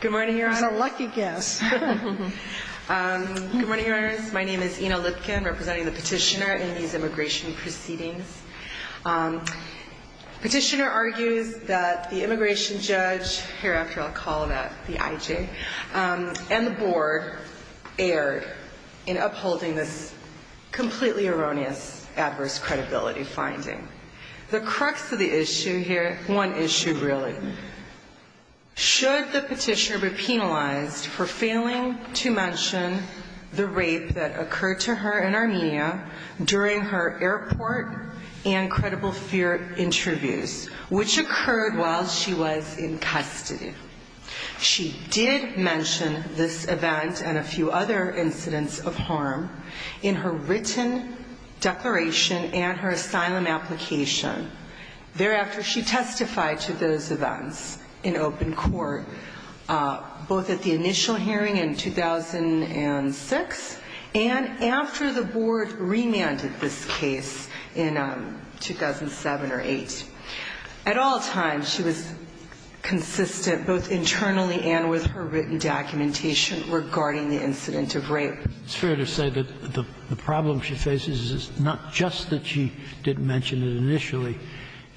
Good morning, Your Honors. My name is Ina Lipkin, representing the petitioner in these immigration proceedings. Petitioner argues that the immigration judge, hereafter I'll call it the IJ, and the board erred in upholding this completely erroneous adverse credibility finding. The crux of the issue here, one issue really, should the petitioner be penalized for failing to mention the rape that occurred to her in Armenia during her airport and credible fear interviews, which occurred while she was in custody. She did mention this event and a few other incidents of harm in her written declaration and her asylum application. Thereafter, she testified to those events in open court, both at the initial hearing in 2006 and after the board remanded this case in 2007 or 2008. At all times, she was consistent both internally and with her written documentation regarding the incident of rape. It's fair to say that the problem she faces is not just that she didn't mention it initially.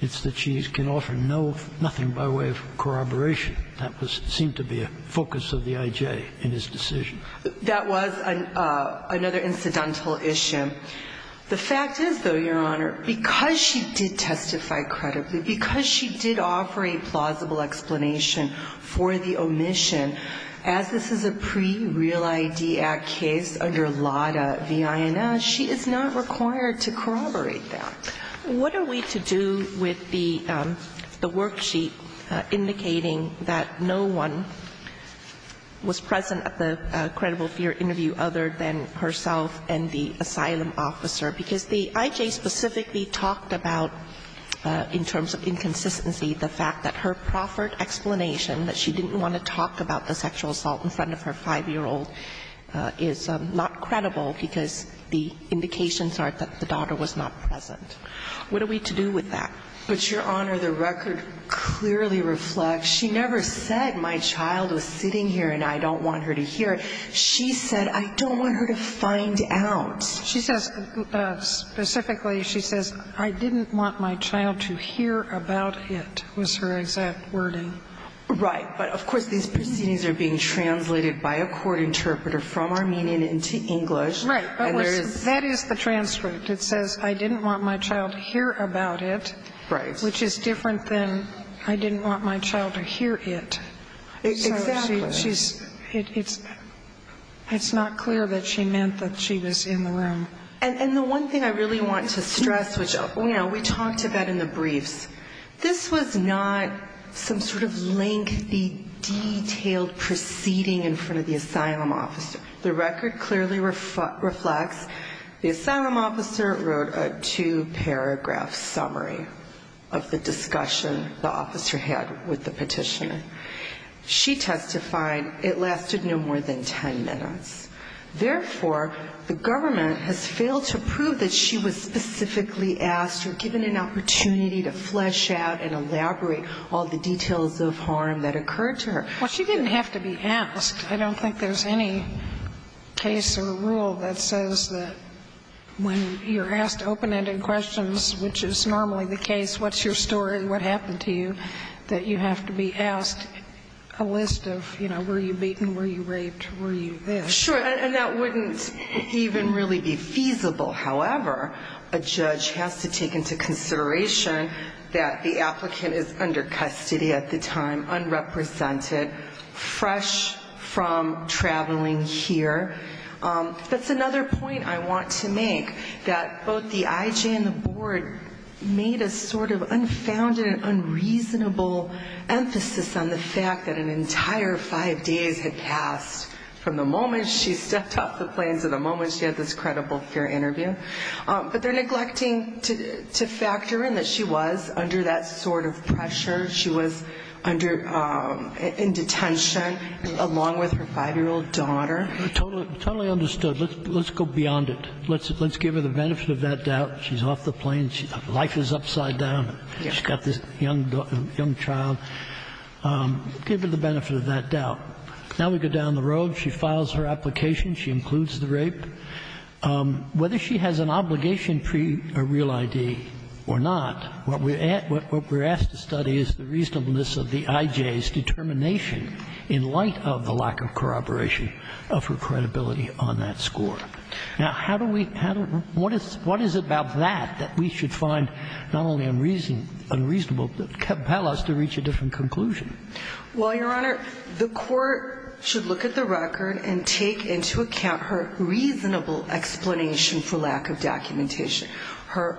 It's that she can offer nothing by way of corroboration. That seemed to be a focus of the IJ in his decision. That was another incidental issue. The fact is, though, Your Honor, because she did testify credibly, because she did corroborate plausible explanation for the omission, as this is a pre-Real ID Act case under LADA v. INS, she is not required to corroborate that. What are we to do with the worksheet indicating that no one was present at the credible fear interview other than herself and the asylum officer? Because the IJ specifically talked about, in terms of inconsistency, the fact that her proffered explanation, that she didn't want to talk about the sexual assault in front of her 5-year-old, is not credible because the indications are that the daughter was not present. What are we to do with that? But, Your Honor, the record clearly reflects, she never said, my child was sitting here and I don't want her to hear it. She said, I don't want her to find out. She says, specifically, she says, I didn't want my child to hear about it, was her exact wording. Right. But, of course, these proceedings are being translated by a court interpreter from Armenian into English. Right. That is the transcript. It says, I didn't want my child to hear about it. Right. Which is different than, I didn't want my child to hear it. Exactly. It's not clear that she meant that she was in the room. And the one thing I really want to stress, which we talked about in the briefs, this was not some sort of lengthy, detailed proceeding in front of the asylum officer. The record clearly reflects, the asylum officer wrote a two-paragraph summary of the discussion the officer had with the petitioner. She testified it lasted no more than 10 minutes. Therefore, the government has failed to prove that she was specifically asked or given an opportunity to flesh out and elaborate all the details of harm that occurred to her. Well, she didn't have to be asked. I don't think there's any case or rule that says that when you're asked open-ended questions, which is normally the case, what's your story, what happened to you, that you have to be asked a list of, you know, were you beaten, were you raped, were you this? Sure. And that wouldn't even really be feasible. However, a judge has to take into consideration that the applicant is under custody at the time, unrepresented, fresh from traveling here. That's another point I want to make, that both the IJ and the board made a sort of confounded and unreasonable emphasis on the fact that an entire five days had passed from the moment she stepped off the plane to the moment she had this credible peer interview. But they're neglecting to factor in that she was under that sort of pressure. She was under – in detention along with her 5-year-old daughter. Totally understood. Let's go beyond it. Let's give her the benefit of that doubt. She's off the plane. Life is upside down. She's got this young child. Give her the benefit of that doubt. Now we go down the road. She files her application. She includes the rape. Whether she has an obligation pre a real ID or not, what we're asked to study is the reasonableness of the IJ's determination in light of the lack of corroboration of her credibility on that score. Now, how do we – what is it about that that we should find not only unreasonable, but compel us to reach a different conclusion? Well, Your Honor, the court should look at the record and take into account her reasonable explanation for lack of documentation. Her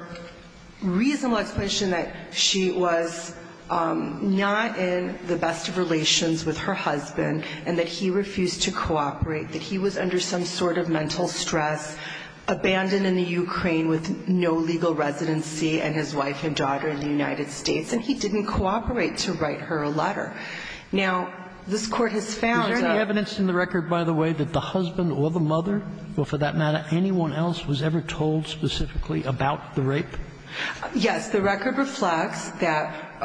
reasonable explanation that she was not in the best of relations with her husband and that he refused to cooperate, that he was under some sort of mental stress, abandoned in the Ukraine with no legal residency, and his wife and daughter in the United States, and he didn't cooperate to write her a letter. Now, this Court has found, Your Honor – Is there any evidence in the record, by the way, that the husband or the mother, or for that matter anyone else, was ever told specifically about the rape? Yes. Because the record reflects that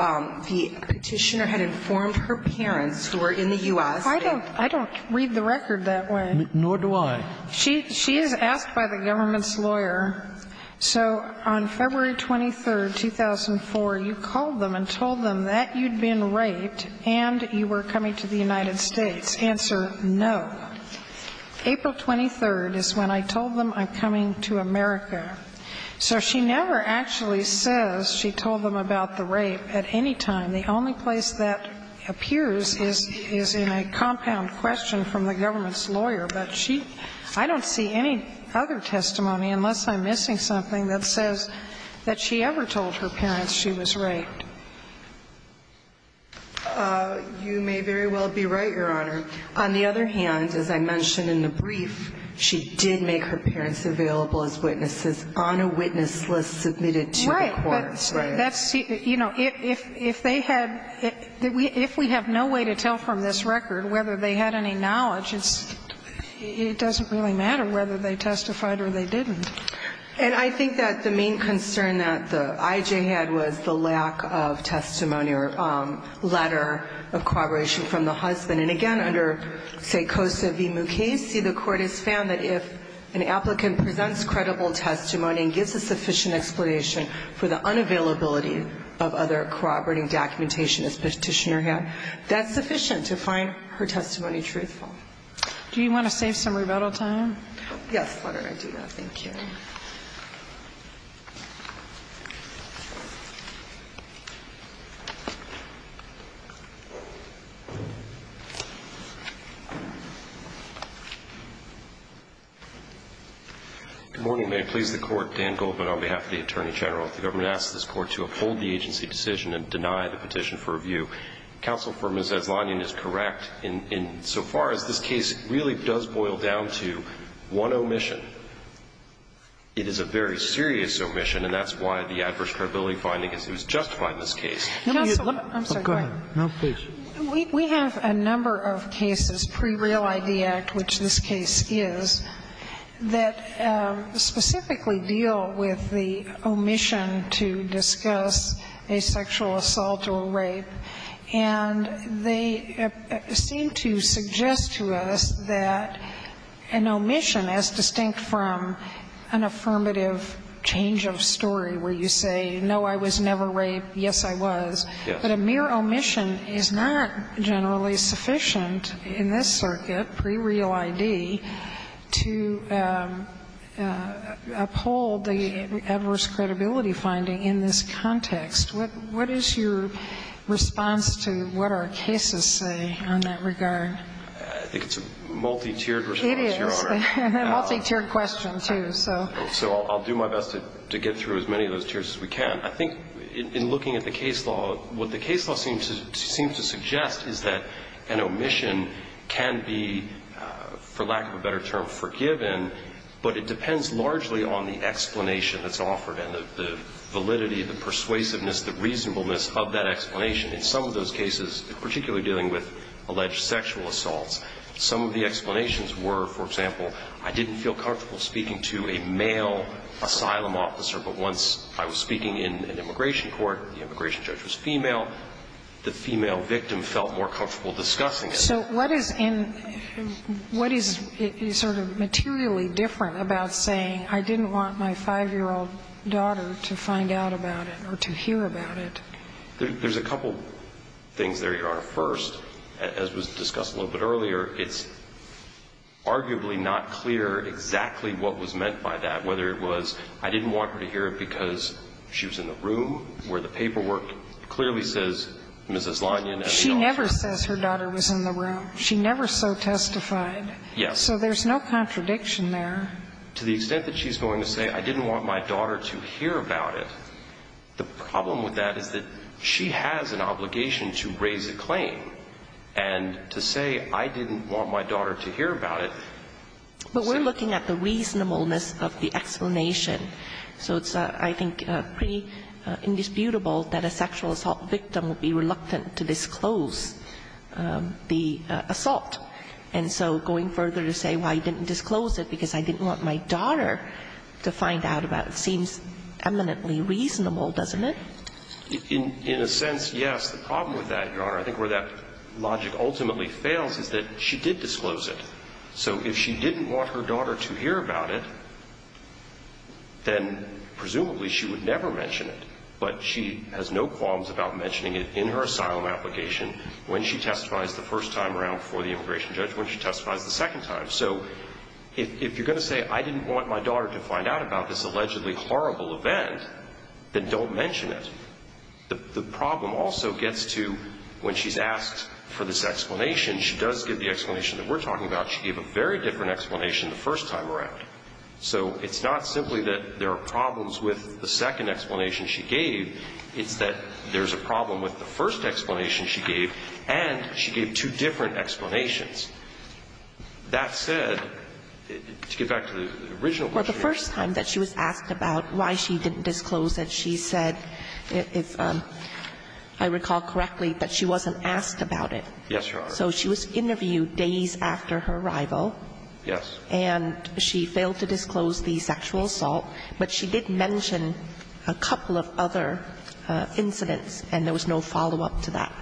the Petitioner had informed her parents who were in the U.S. that – I don't – I don't read the record that way. Nor do I. She is asked by the government's lawyer, so on February 23rd, 2004, you called them and told them that you'd been raped and you were coming to the United States. Answer, no. April 23rd is when I told them I'm coming to America. So she never actually says she told them about the rape at any time. The only place that appears is in a compound question from the government's lawyer, but she – I don't see any other testimony, unless I'm missing something, that says that she ever told her parents she was raped. You may very well be right, Your Honor. On the other hand, as I mentioned in the brief, she did make her parents available as witnesses on a witness list submitted to the courts. Right. But that's – you know, if they had – if we have no way to tell from this record whether they had any knowledge, it's – it doesn't really matter whether they testified or they didn't. And I think that the main concern that the IJ had was the lack of testimony or letter of corroboration from the husband. And again, under, say, Cosa v. Mukasey, the Court has found that if an applicant presents credible testimony and gives a sufficient explanation for the unavailability of other corroborating documentation, as Petitioner had, that's sufficient to find her testimony truthful. Do you want to save some rebuttal time? Yes, Your Honor. I do. Thank you. Good morning. May it please the Court. Dan Goldman on behalf of the Attorney General. The government asks this Court to uphold the agency decision and deny the petition for review. Counsel for Ms. Eslanian is correct in so far as this case really does boil down One omission. One omission. One omission. One omission. It is a very serious omission, and that's why the adverse credibility finding is who's justifying this case. I'm sorry. Go ahead. No, please. We have a number of cases pre-Real ID Act, which this case is, that specifically deal with the omission to discuss a sexual assault or rape. And they seem to suggest to us that an omission, as distinct from an affirmative change of story where you say, no, I was never raped, yes, I was, but a mere omission is not generally sufficient in this circuit, pre-Real ID, to uphold the adverse credibility finding in this context. What is your response to what our cases say in that regard? I think it's a multi-tiered response. It is. A multi-tiered question, too. So I'll do my best to get through as many of those tiers as we can. I think in looking at the case law, what the case law seems to suggest is that an omission can be, for lack of a better term, forgiven, but it depends largely on the reasonableness of that explanation. In some of those cases, particularly dealing with alleged sexual assaults, some of the explanations were, for example, I didn't feel comfortable speaking to a male asylum officer, but once I was speaking in an immigration court, the immigration judge was female, the female victim felt more comfortable discussing it. So what is in – what is sort of materially different about saying I didn't want my 5-year-old daughter to find out about it or to hear about it? There's a couple things there, Your Honor. First, as was discussed a little bit earlier, it's arguably not clear exactly what was meant by that, whether it was, I didn't want her to hear it because she was in the room where the paperwork clearly says Mrs. Lanyon and the officer. She never says her daughter was in the room. She never so testified. Yes. So there's no contradiction there. To the extent that she's going to say I didn't want my daughter to hear about it, the problem with that is that she has an obligation to raise a claim. And to say I didn't want my daughter to hear about it – But we're looking at the reasonableness of the explanation. So it's, I think, pretty indisputable that a sexual assault victim would be reluctant to disclose the assault. And so going further to say, well, you didn't disclose it because I didn't want my daughter to find out about it seems eminently reasonable, doesn't it? In a sense, yes. The problem with that, Your Honor, I think where that logic ultimately fails is that she did disclose it. So if she didn't want her daughter to hear about it, then presumably she would never mention it. But she has no qualms about mentioning it in her asylum application when she testifies the first time around before the immigration judge, when she testifies the second time. So if you're going to say I didn't want my daughter to find out about this allegedly horrible event, then don't mention it. The problem also gets to when she's asked for this explanation, she does give the explanation that we're talking about. She gave a very different explanation the first time around. So it's not simply that there are problems with the second explanation she gave. It's that there's a problem with the first explanation she gave, and she gave two different explanations. That said, to get back to the original question here. Well, the first time that she was asked about why she didn't disclose it, she said if I recall correctly that she wasn't asked about it. Yes, Your Honor. So she was interviewed days after her arrival. Yes. And she failed to disclose the sexual assault, but she did mention a couple of other incidents, and there was no follow-up to that.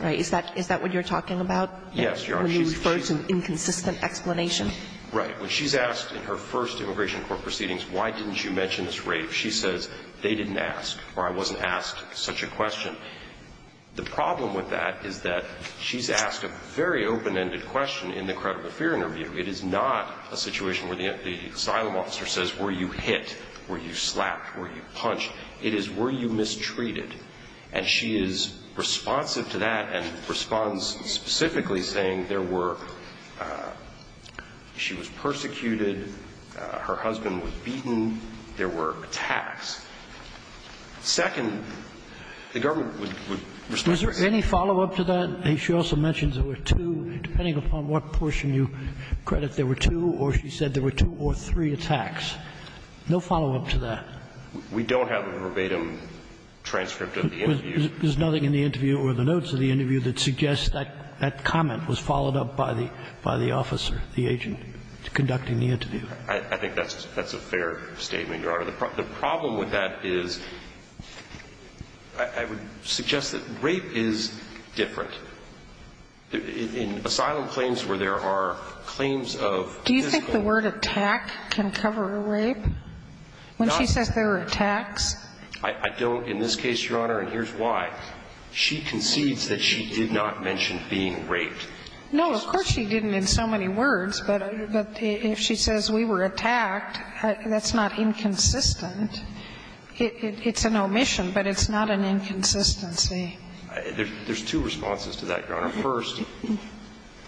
Right? Is that what you're talking about? Yes, Your Honor. When you refer to inconsistent explanation? Right. When she's asked in her first immigration court proceedings why didn't you mention this rape, she says they didn't ask or I wasn't asked such a question. The problem with that is that she's asked a very open-ended question in the credible fear interview. It is not a situation where the asylum officer says were you hit, were you slapped, were you punched. It is were you mistreated. And she is responsive to that and responds specifically saying there were – she was persecuted, her husband was beaten, there were attacks. Second, the government would respond. Is there any follow-up to that? She also mentions there were two, depending upon what portion you credit, there were two, or she said there were two or three attacks. No follow-up to that. We don't have a verbatim transcript of the interview. There's nothing in the interview or the notes of the interview that suggests that comment was followed up by the officer, the agent conducting the interview. I think that's a fair statement, Your Honor. The problem with that is I would suggest that rape is different. In asylum claims where there are claims of physical – Do you think the word attack can cover rape? When she says there were attacks? I don't. In this case, Your Honor, and here's why, she concedes that she did not mention being raped. No, of course she didn't in so many words. But if she says we were attacked, that's not inconsistent. It's an omission, but it's not an inconsistency. There's two responses to that, Your Honor. First,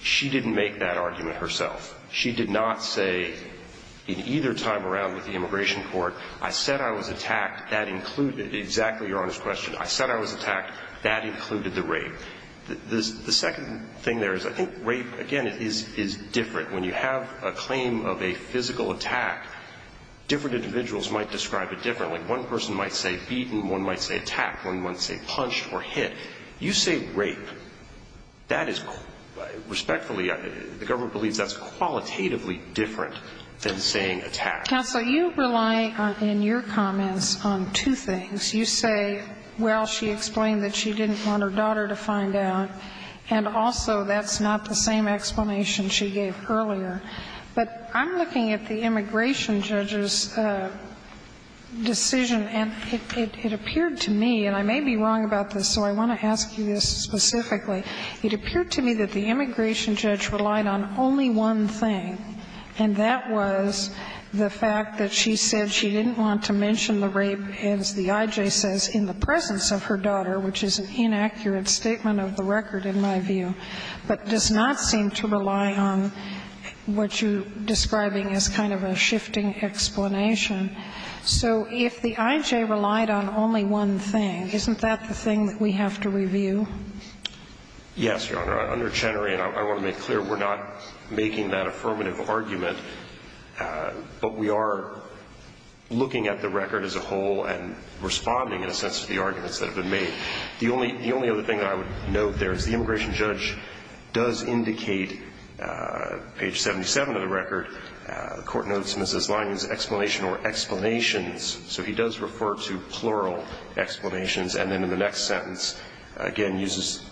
she didn't make that argument herself. She did not say in either time around with the immigration court, I said I was attacked. That included – exactly, Your Honor's question. I said I was attacked. That included the rape. The second thing there is I think rape, again, is different. When you have a claim of a physical attack, different individuals might describe it differently. One person might say beaten. One might say attacked. One might say punched or hit. You say rape. That is – respectfully, the government believes that's qualitatively different than saying attacked. Counsel, you rely in your comments on two things. You say, well, she explained that she didn't want her daughter to find out, and also that's not the same explanation she gave earlier. But I'm looking at the immigration judge's decision, and it appeared to me, and I may be wrong about this, so I want to ask you this specifically. It appeared to me that the immigration judge relied on only one thing, and that was the fact that she said she didn't want to mention the rape, as the I.J. says, in the presence of her daughter, which is an inaccurate statement of the record, in my view, but does not seem to rely on what you're describing as kind of a shifting explanation. So if the I.J. relied on only one thing, isn't that the thing that we have to review? Yes, Your Honor. Under Chenery, and I want to make clear, we're not making that affirmative argument, but we are looking at the record as a whole and responding in a sense to the arguments that have been made. The only other thing that I would note there is the immigration judge does indicate on page 77 of the record, the Court notes Mrs. Lining's explanation or explanations, so he does refer to plural explanations, and then in the next sentence, again, uses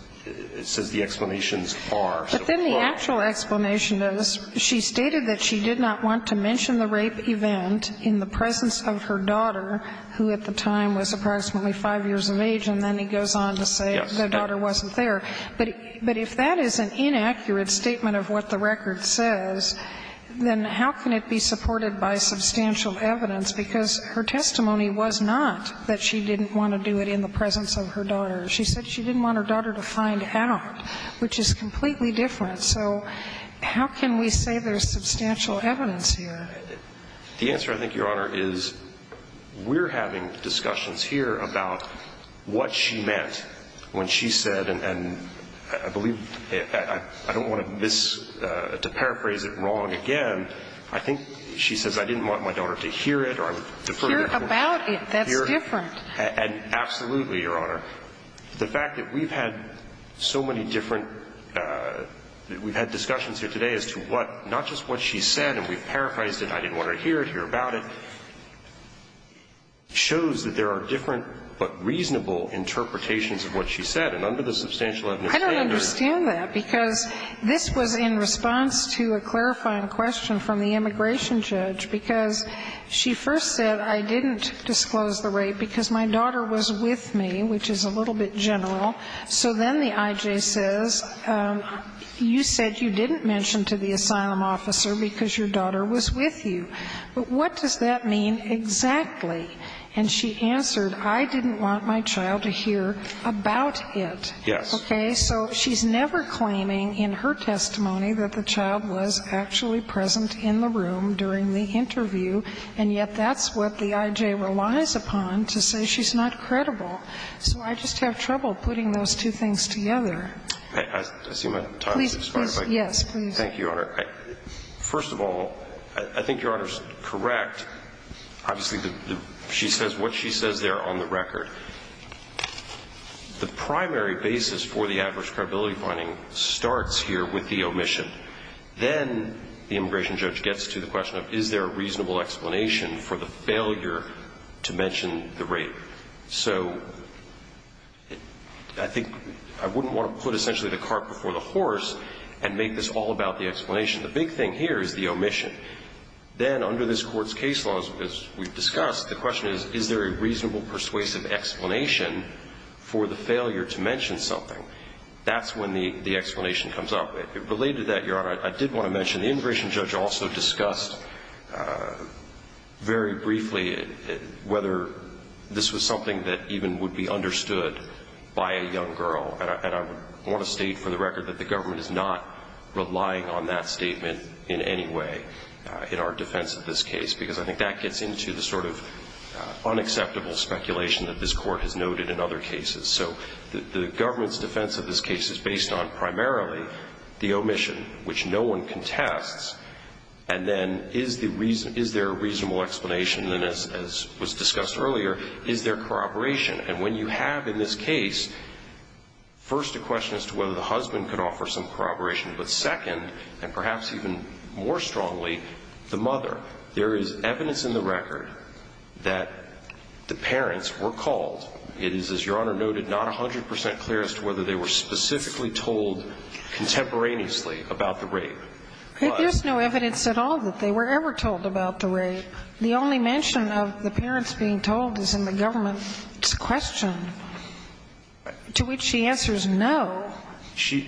the explanations are. But then the actual explanation is she stated that she did not want to mention the rape event in the presence of her daughter, who at the time was approximately 5 years of age, and then he goes on to say the daughter wasn't there. But if that is an inaccurate statement of what the record says, then how can it be supported by substantial evidence, because her testimony was not that she didn't want to do it in the presence of her daughter. She said she didn't want her daughter to find out, which is completely different. So how can we say there's substantial evidence here? The answer, I think, Your Honor, is we're having discussions here about what she meant when she said, and I believe, I don't want to miss, to paraphrase it wrong again, I think she says, I didn't want my daughter to hear it, or I would defer to the Court. Hear about it. That's different. Absolutely, Your Honor. The fact that we've had so many different we've had discussions here today as to what not just what she said, and we've paraphrased it, I didn't want her to hear it, hear I don't understand that, because this was in response to a clarifying question from the immigration judge, because she first said, I didn't disclose the rape because my daughter was with me, which is a little bit general. So then the I.J. says, you said you didn't mention to the asylum officer because your daughter was with you. But what does that mean exactly? And she answered, I didn't want my child to hear about it. Yes. Okay? So she's never claiming in her testimony that the child was actually present in the room during the interview, and yet that's what the I.J. relies upon to say she's not credible. So I just have trouble putting those two things together. I see my time has expired. Please, yes, please. Thank you, Your Honor. First of all, I think Your Honor's correct. Obviously, what she says there on the record, the primary basis for the adverse credibility finding starts here with the omission. Then the immigration judge gets to the question of, is there a reasonable explanation for the failure to mention the rape? So I think I wouldn't want to put essentially the cart before the horse and make this all about the explanation. The big thing here is the omission. Then under this Court's case laws, as we've discussed, the question is, is there a reasonable persuasive explanation for the failure to mention something? That's when the explanation comes up. Related to that, Your Honor, I did want to mention the immigration judge also discussed very briefly whether this was something that even would be understood by a young girl. And I want to state for the record that the government is not relying on that statement in any way. In our defense of this case, because I think that gets into the sort of unacceptable speculation that this Court has noted in other cases. So the government's defense of this case is based on primarily the omission, which no one contests. And then is there a reasonable explanation? And as was discussed earlier, is there corroboration? And when you have in this case, first a question as to whether the husband could offer some corroboration. But second, and perhaps even more strongly, the mother. There is evidence in the record that the parents were called. It is, as Your Honor noted, not 100 percent clear as to whether they were specifically told contemporaneously about the rape. But. But there's no evidence at all that they were ever told about the rape. The only mention of the parents being told is in the government's question, to which she answers no.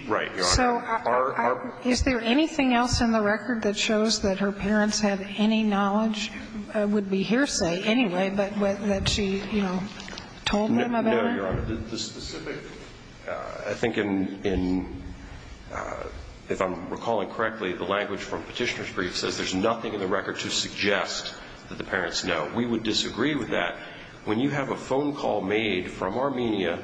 Right, Your Honor. So is there anything else in the record that shows that her parents had any knowledge would be hearsay anyway, but that she, you know, told them about it? No, Your Honor. The specific, I think in, if I'm recalling correctly, the language from Petitioner's brief says there's nothing in the record to suggest that the parents know. We would disagree with that. When you have a phone call made from Armenia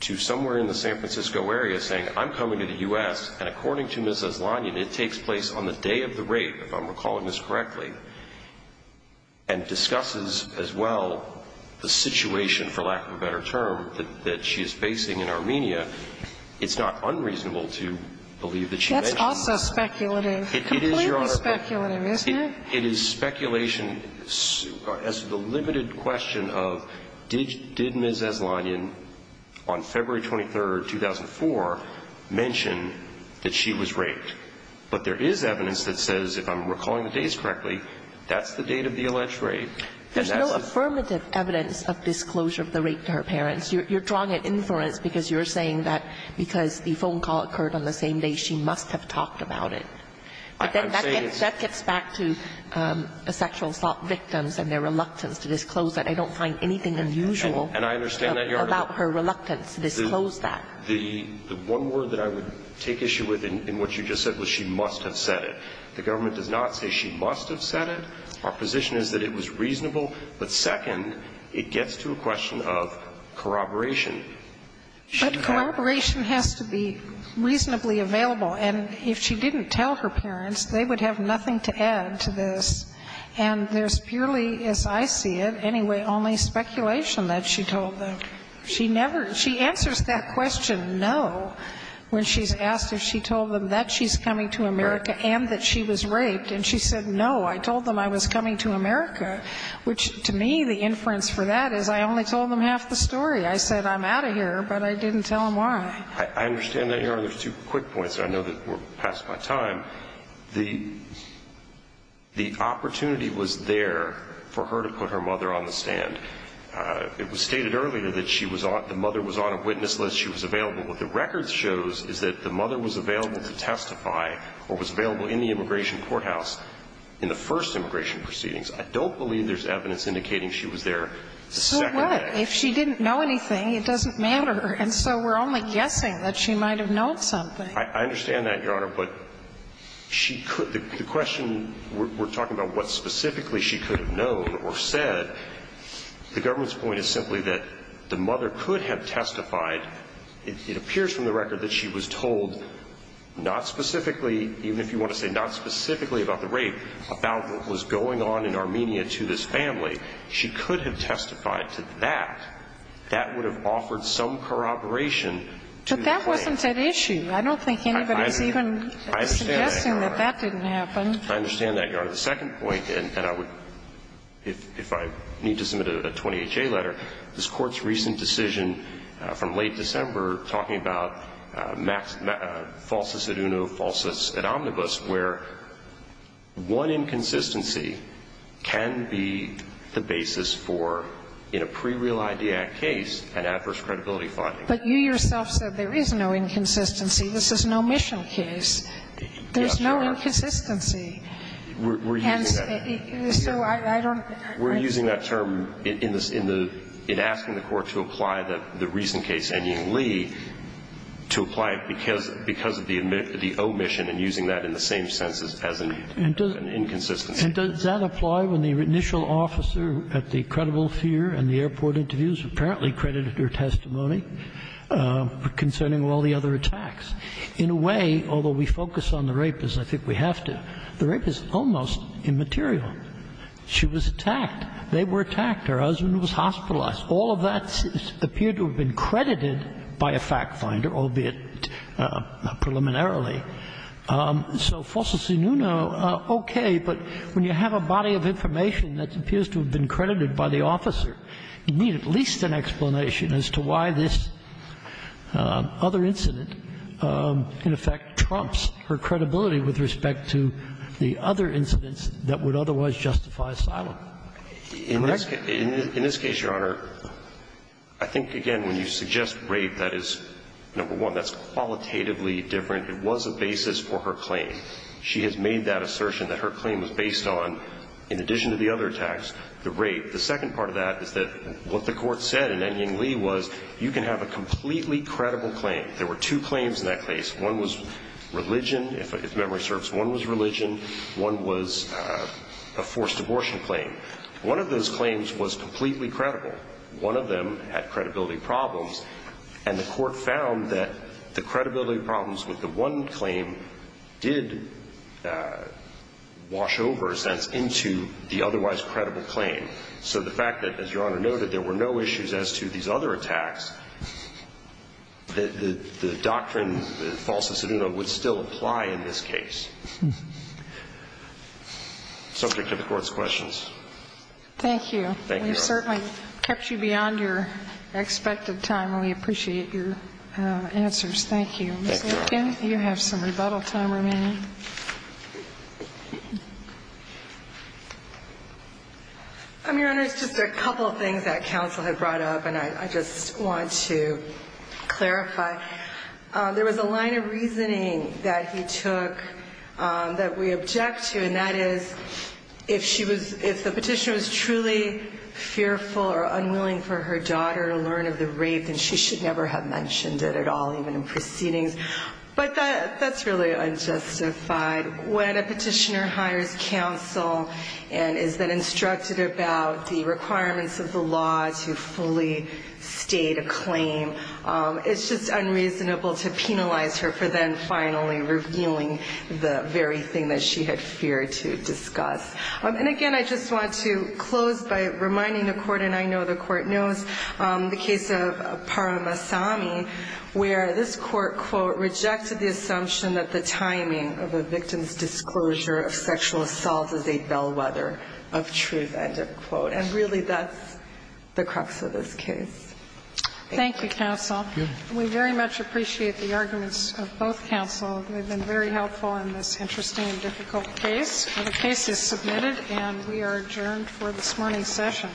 to somewhere in the San Francisco area saying, I'm coming to the U.S., and according to Ms. Aslanian, it takes place on the day of the rape, if I'm recalling this correctly, and discusses as well the situation, for lack of a better term, that she is facing in Armenia, it's not unreasonable to believe that she may know. That's also speculative. It is, Your Honor. Completely speculative, isn't it? And it is speculation as to the limited question of did Ms. Aslanian, on February 23, 2004, mention that she was raped. But there is evidence that says, if I'm recalling the dates correctly, that's the date of the alleged rape. There's no affirmative evidence of disclosure of the rape to her parents. You're drawing an inference because you're saying that because the phone call occurred on the same day, she must have talked about it. But then that gets back to sexual assault victims and their reluctance to disclose that. I don't find anything unusual about her reluctance to disclose that. The one word that I would take issue with in what you just said was she must have said it. The government does not say she must have said it. Our position is that it was reasonable. But second, it gets to a question of corroboration. But corroboration has to be reasonably available. And if she didn't tell her parents, they would have nothing to add to this. And there's purely, as I see it, anyway, only speculation that she told them. She never – she answers that question no when she's asked if she told them that she's coming to America and that she was raped. And she said, no, I told them I was coming to America, which, to me, the inference for that is I only told them half the story. I said I'm out of here, but I didn't tell them why. I understand that. Your Honor, there's two quick points. I know that we're past my time. The opportunity was there for her to put her mother on the stand. It was stated earlier that she was on – the mother was on a witness list. She was available. What the records shows is that the mother was available to testify or was available in the immigration courthouse in the first immigration proceedings. I don't believe there's evidence indicating she was there the second day. So what? If she didn't know anything, it doesn't matter. And so we're only guessing that she might have known something. I understand that, Your Honor, but she could – the question – we're talking about what specifically she could have known or said. The government's point is simply that the mother could have testified. It appears from the record that she was told not specifically – even if you want to say not specifically about the rape, about what was going on in Armenia to this family. She could have testified to that. That would have offered some corroboration to the claim. But that wasn't at issue. I don't think anybody's even suggesting that that didn't happen. I understand that, Your Honor. I understand that, Your Honor. The second point, and I would – if I need to submit a 20HA letter, this Court's recent decision from late December talking about falsus ad uno, falsus ad omnibus, where one inconsistency can be the basis for, in a pre-Real ID Act case, an adverse credibility finding. But you yourself said there is no inconsistency. This is an omission case. There's no inconsistency. We're using that – we're using that term in the – in asking the Court to apply the recent case, Enyi and Lee, to apply it because of the omission and using that in the same sense as an inconsistency. And does that apply when the initial officer at the credible fear and the airport interviews apparently credited her testimony concerning all the other attacks? In a way, although we focus on the rapist, I think we have to, the rapist is almost immaterial. She was attacked. They were attacked. Her husband was hospitalized. All of that appeared to have been credited by a fact finder, albeit preliminarily. So falsus ad uno, okay, but when you have a body of information that appears to have been credited by the officer, you need at least an explanation as to why this other incident, in effect, trumps her credibility with respect to the other incidents that would otherwise justify asylum. In this case, Your Honor, I think, again, when you suggest rape, that is, number one, that's qualitatively different. It was a basis for her claim. She has made that assertion that her claim was based on, in addition to the other attacks, the rape. The second part of that is that what the Court said in Enyi and Lee was you can have a completely credible claim. There were two claims in that case. One was religion, if memory serves. One was religion. One was a forced abortion claim. One of those claims was completely credible. One of them had credibility problems, and the Court found that the credibility problems with the one claim did wash over, in a sense, into the otherwise credible claim. So the fact that, as Your Honor noted, there were no issues as to these other attacks, the doctrine, falsus ad uno, would still apply in this case. Subject to the Court's questions. Thank you. Thank you, Your Honor. We certainly kept you beyond your expected time, and we appreciate your answers. Thank you. Thank you, Your Honor. Ms. Lincoln, you have some rebuttal time remaining. Your Honor, it's just a couple of things that counsel had brought up, and I just want to clarify. There was a line of reasoning that he took that we object to, and that is, if the petitioner was truly fearful or unwilling for her daughter to learn of the rape, then she should never have mentioned it at all, even in proceedings. But that's really unjustified. When a petitioner hires counsel and is then instructed about the requirements of the law to fully state a claim, it's just unreasonable to penalize her for then finally revealing the very thing that she had feared to discuss. And, again, I just want to close by reminding the Court, and I know the Court knows, the case of Paramasami, where this Court, quote, rejected the assumption that the timing of a victim's disclosure of sexual assault is a bellwether of truth, end of quote. And really, that's the crux of this case. Thank you. Thank you, counsel. We very much appreciate the arguments of both counsel. They've been very helpful in this interesting and difficult case. The case is submitted, and we are adjourned for this morning's session.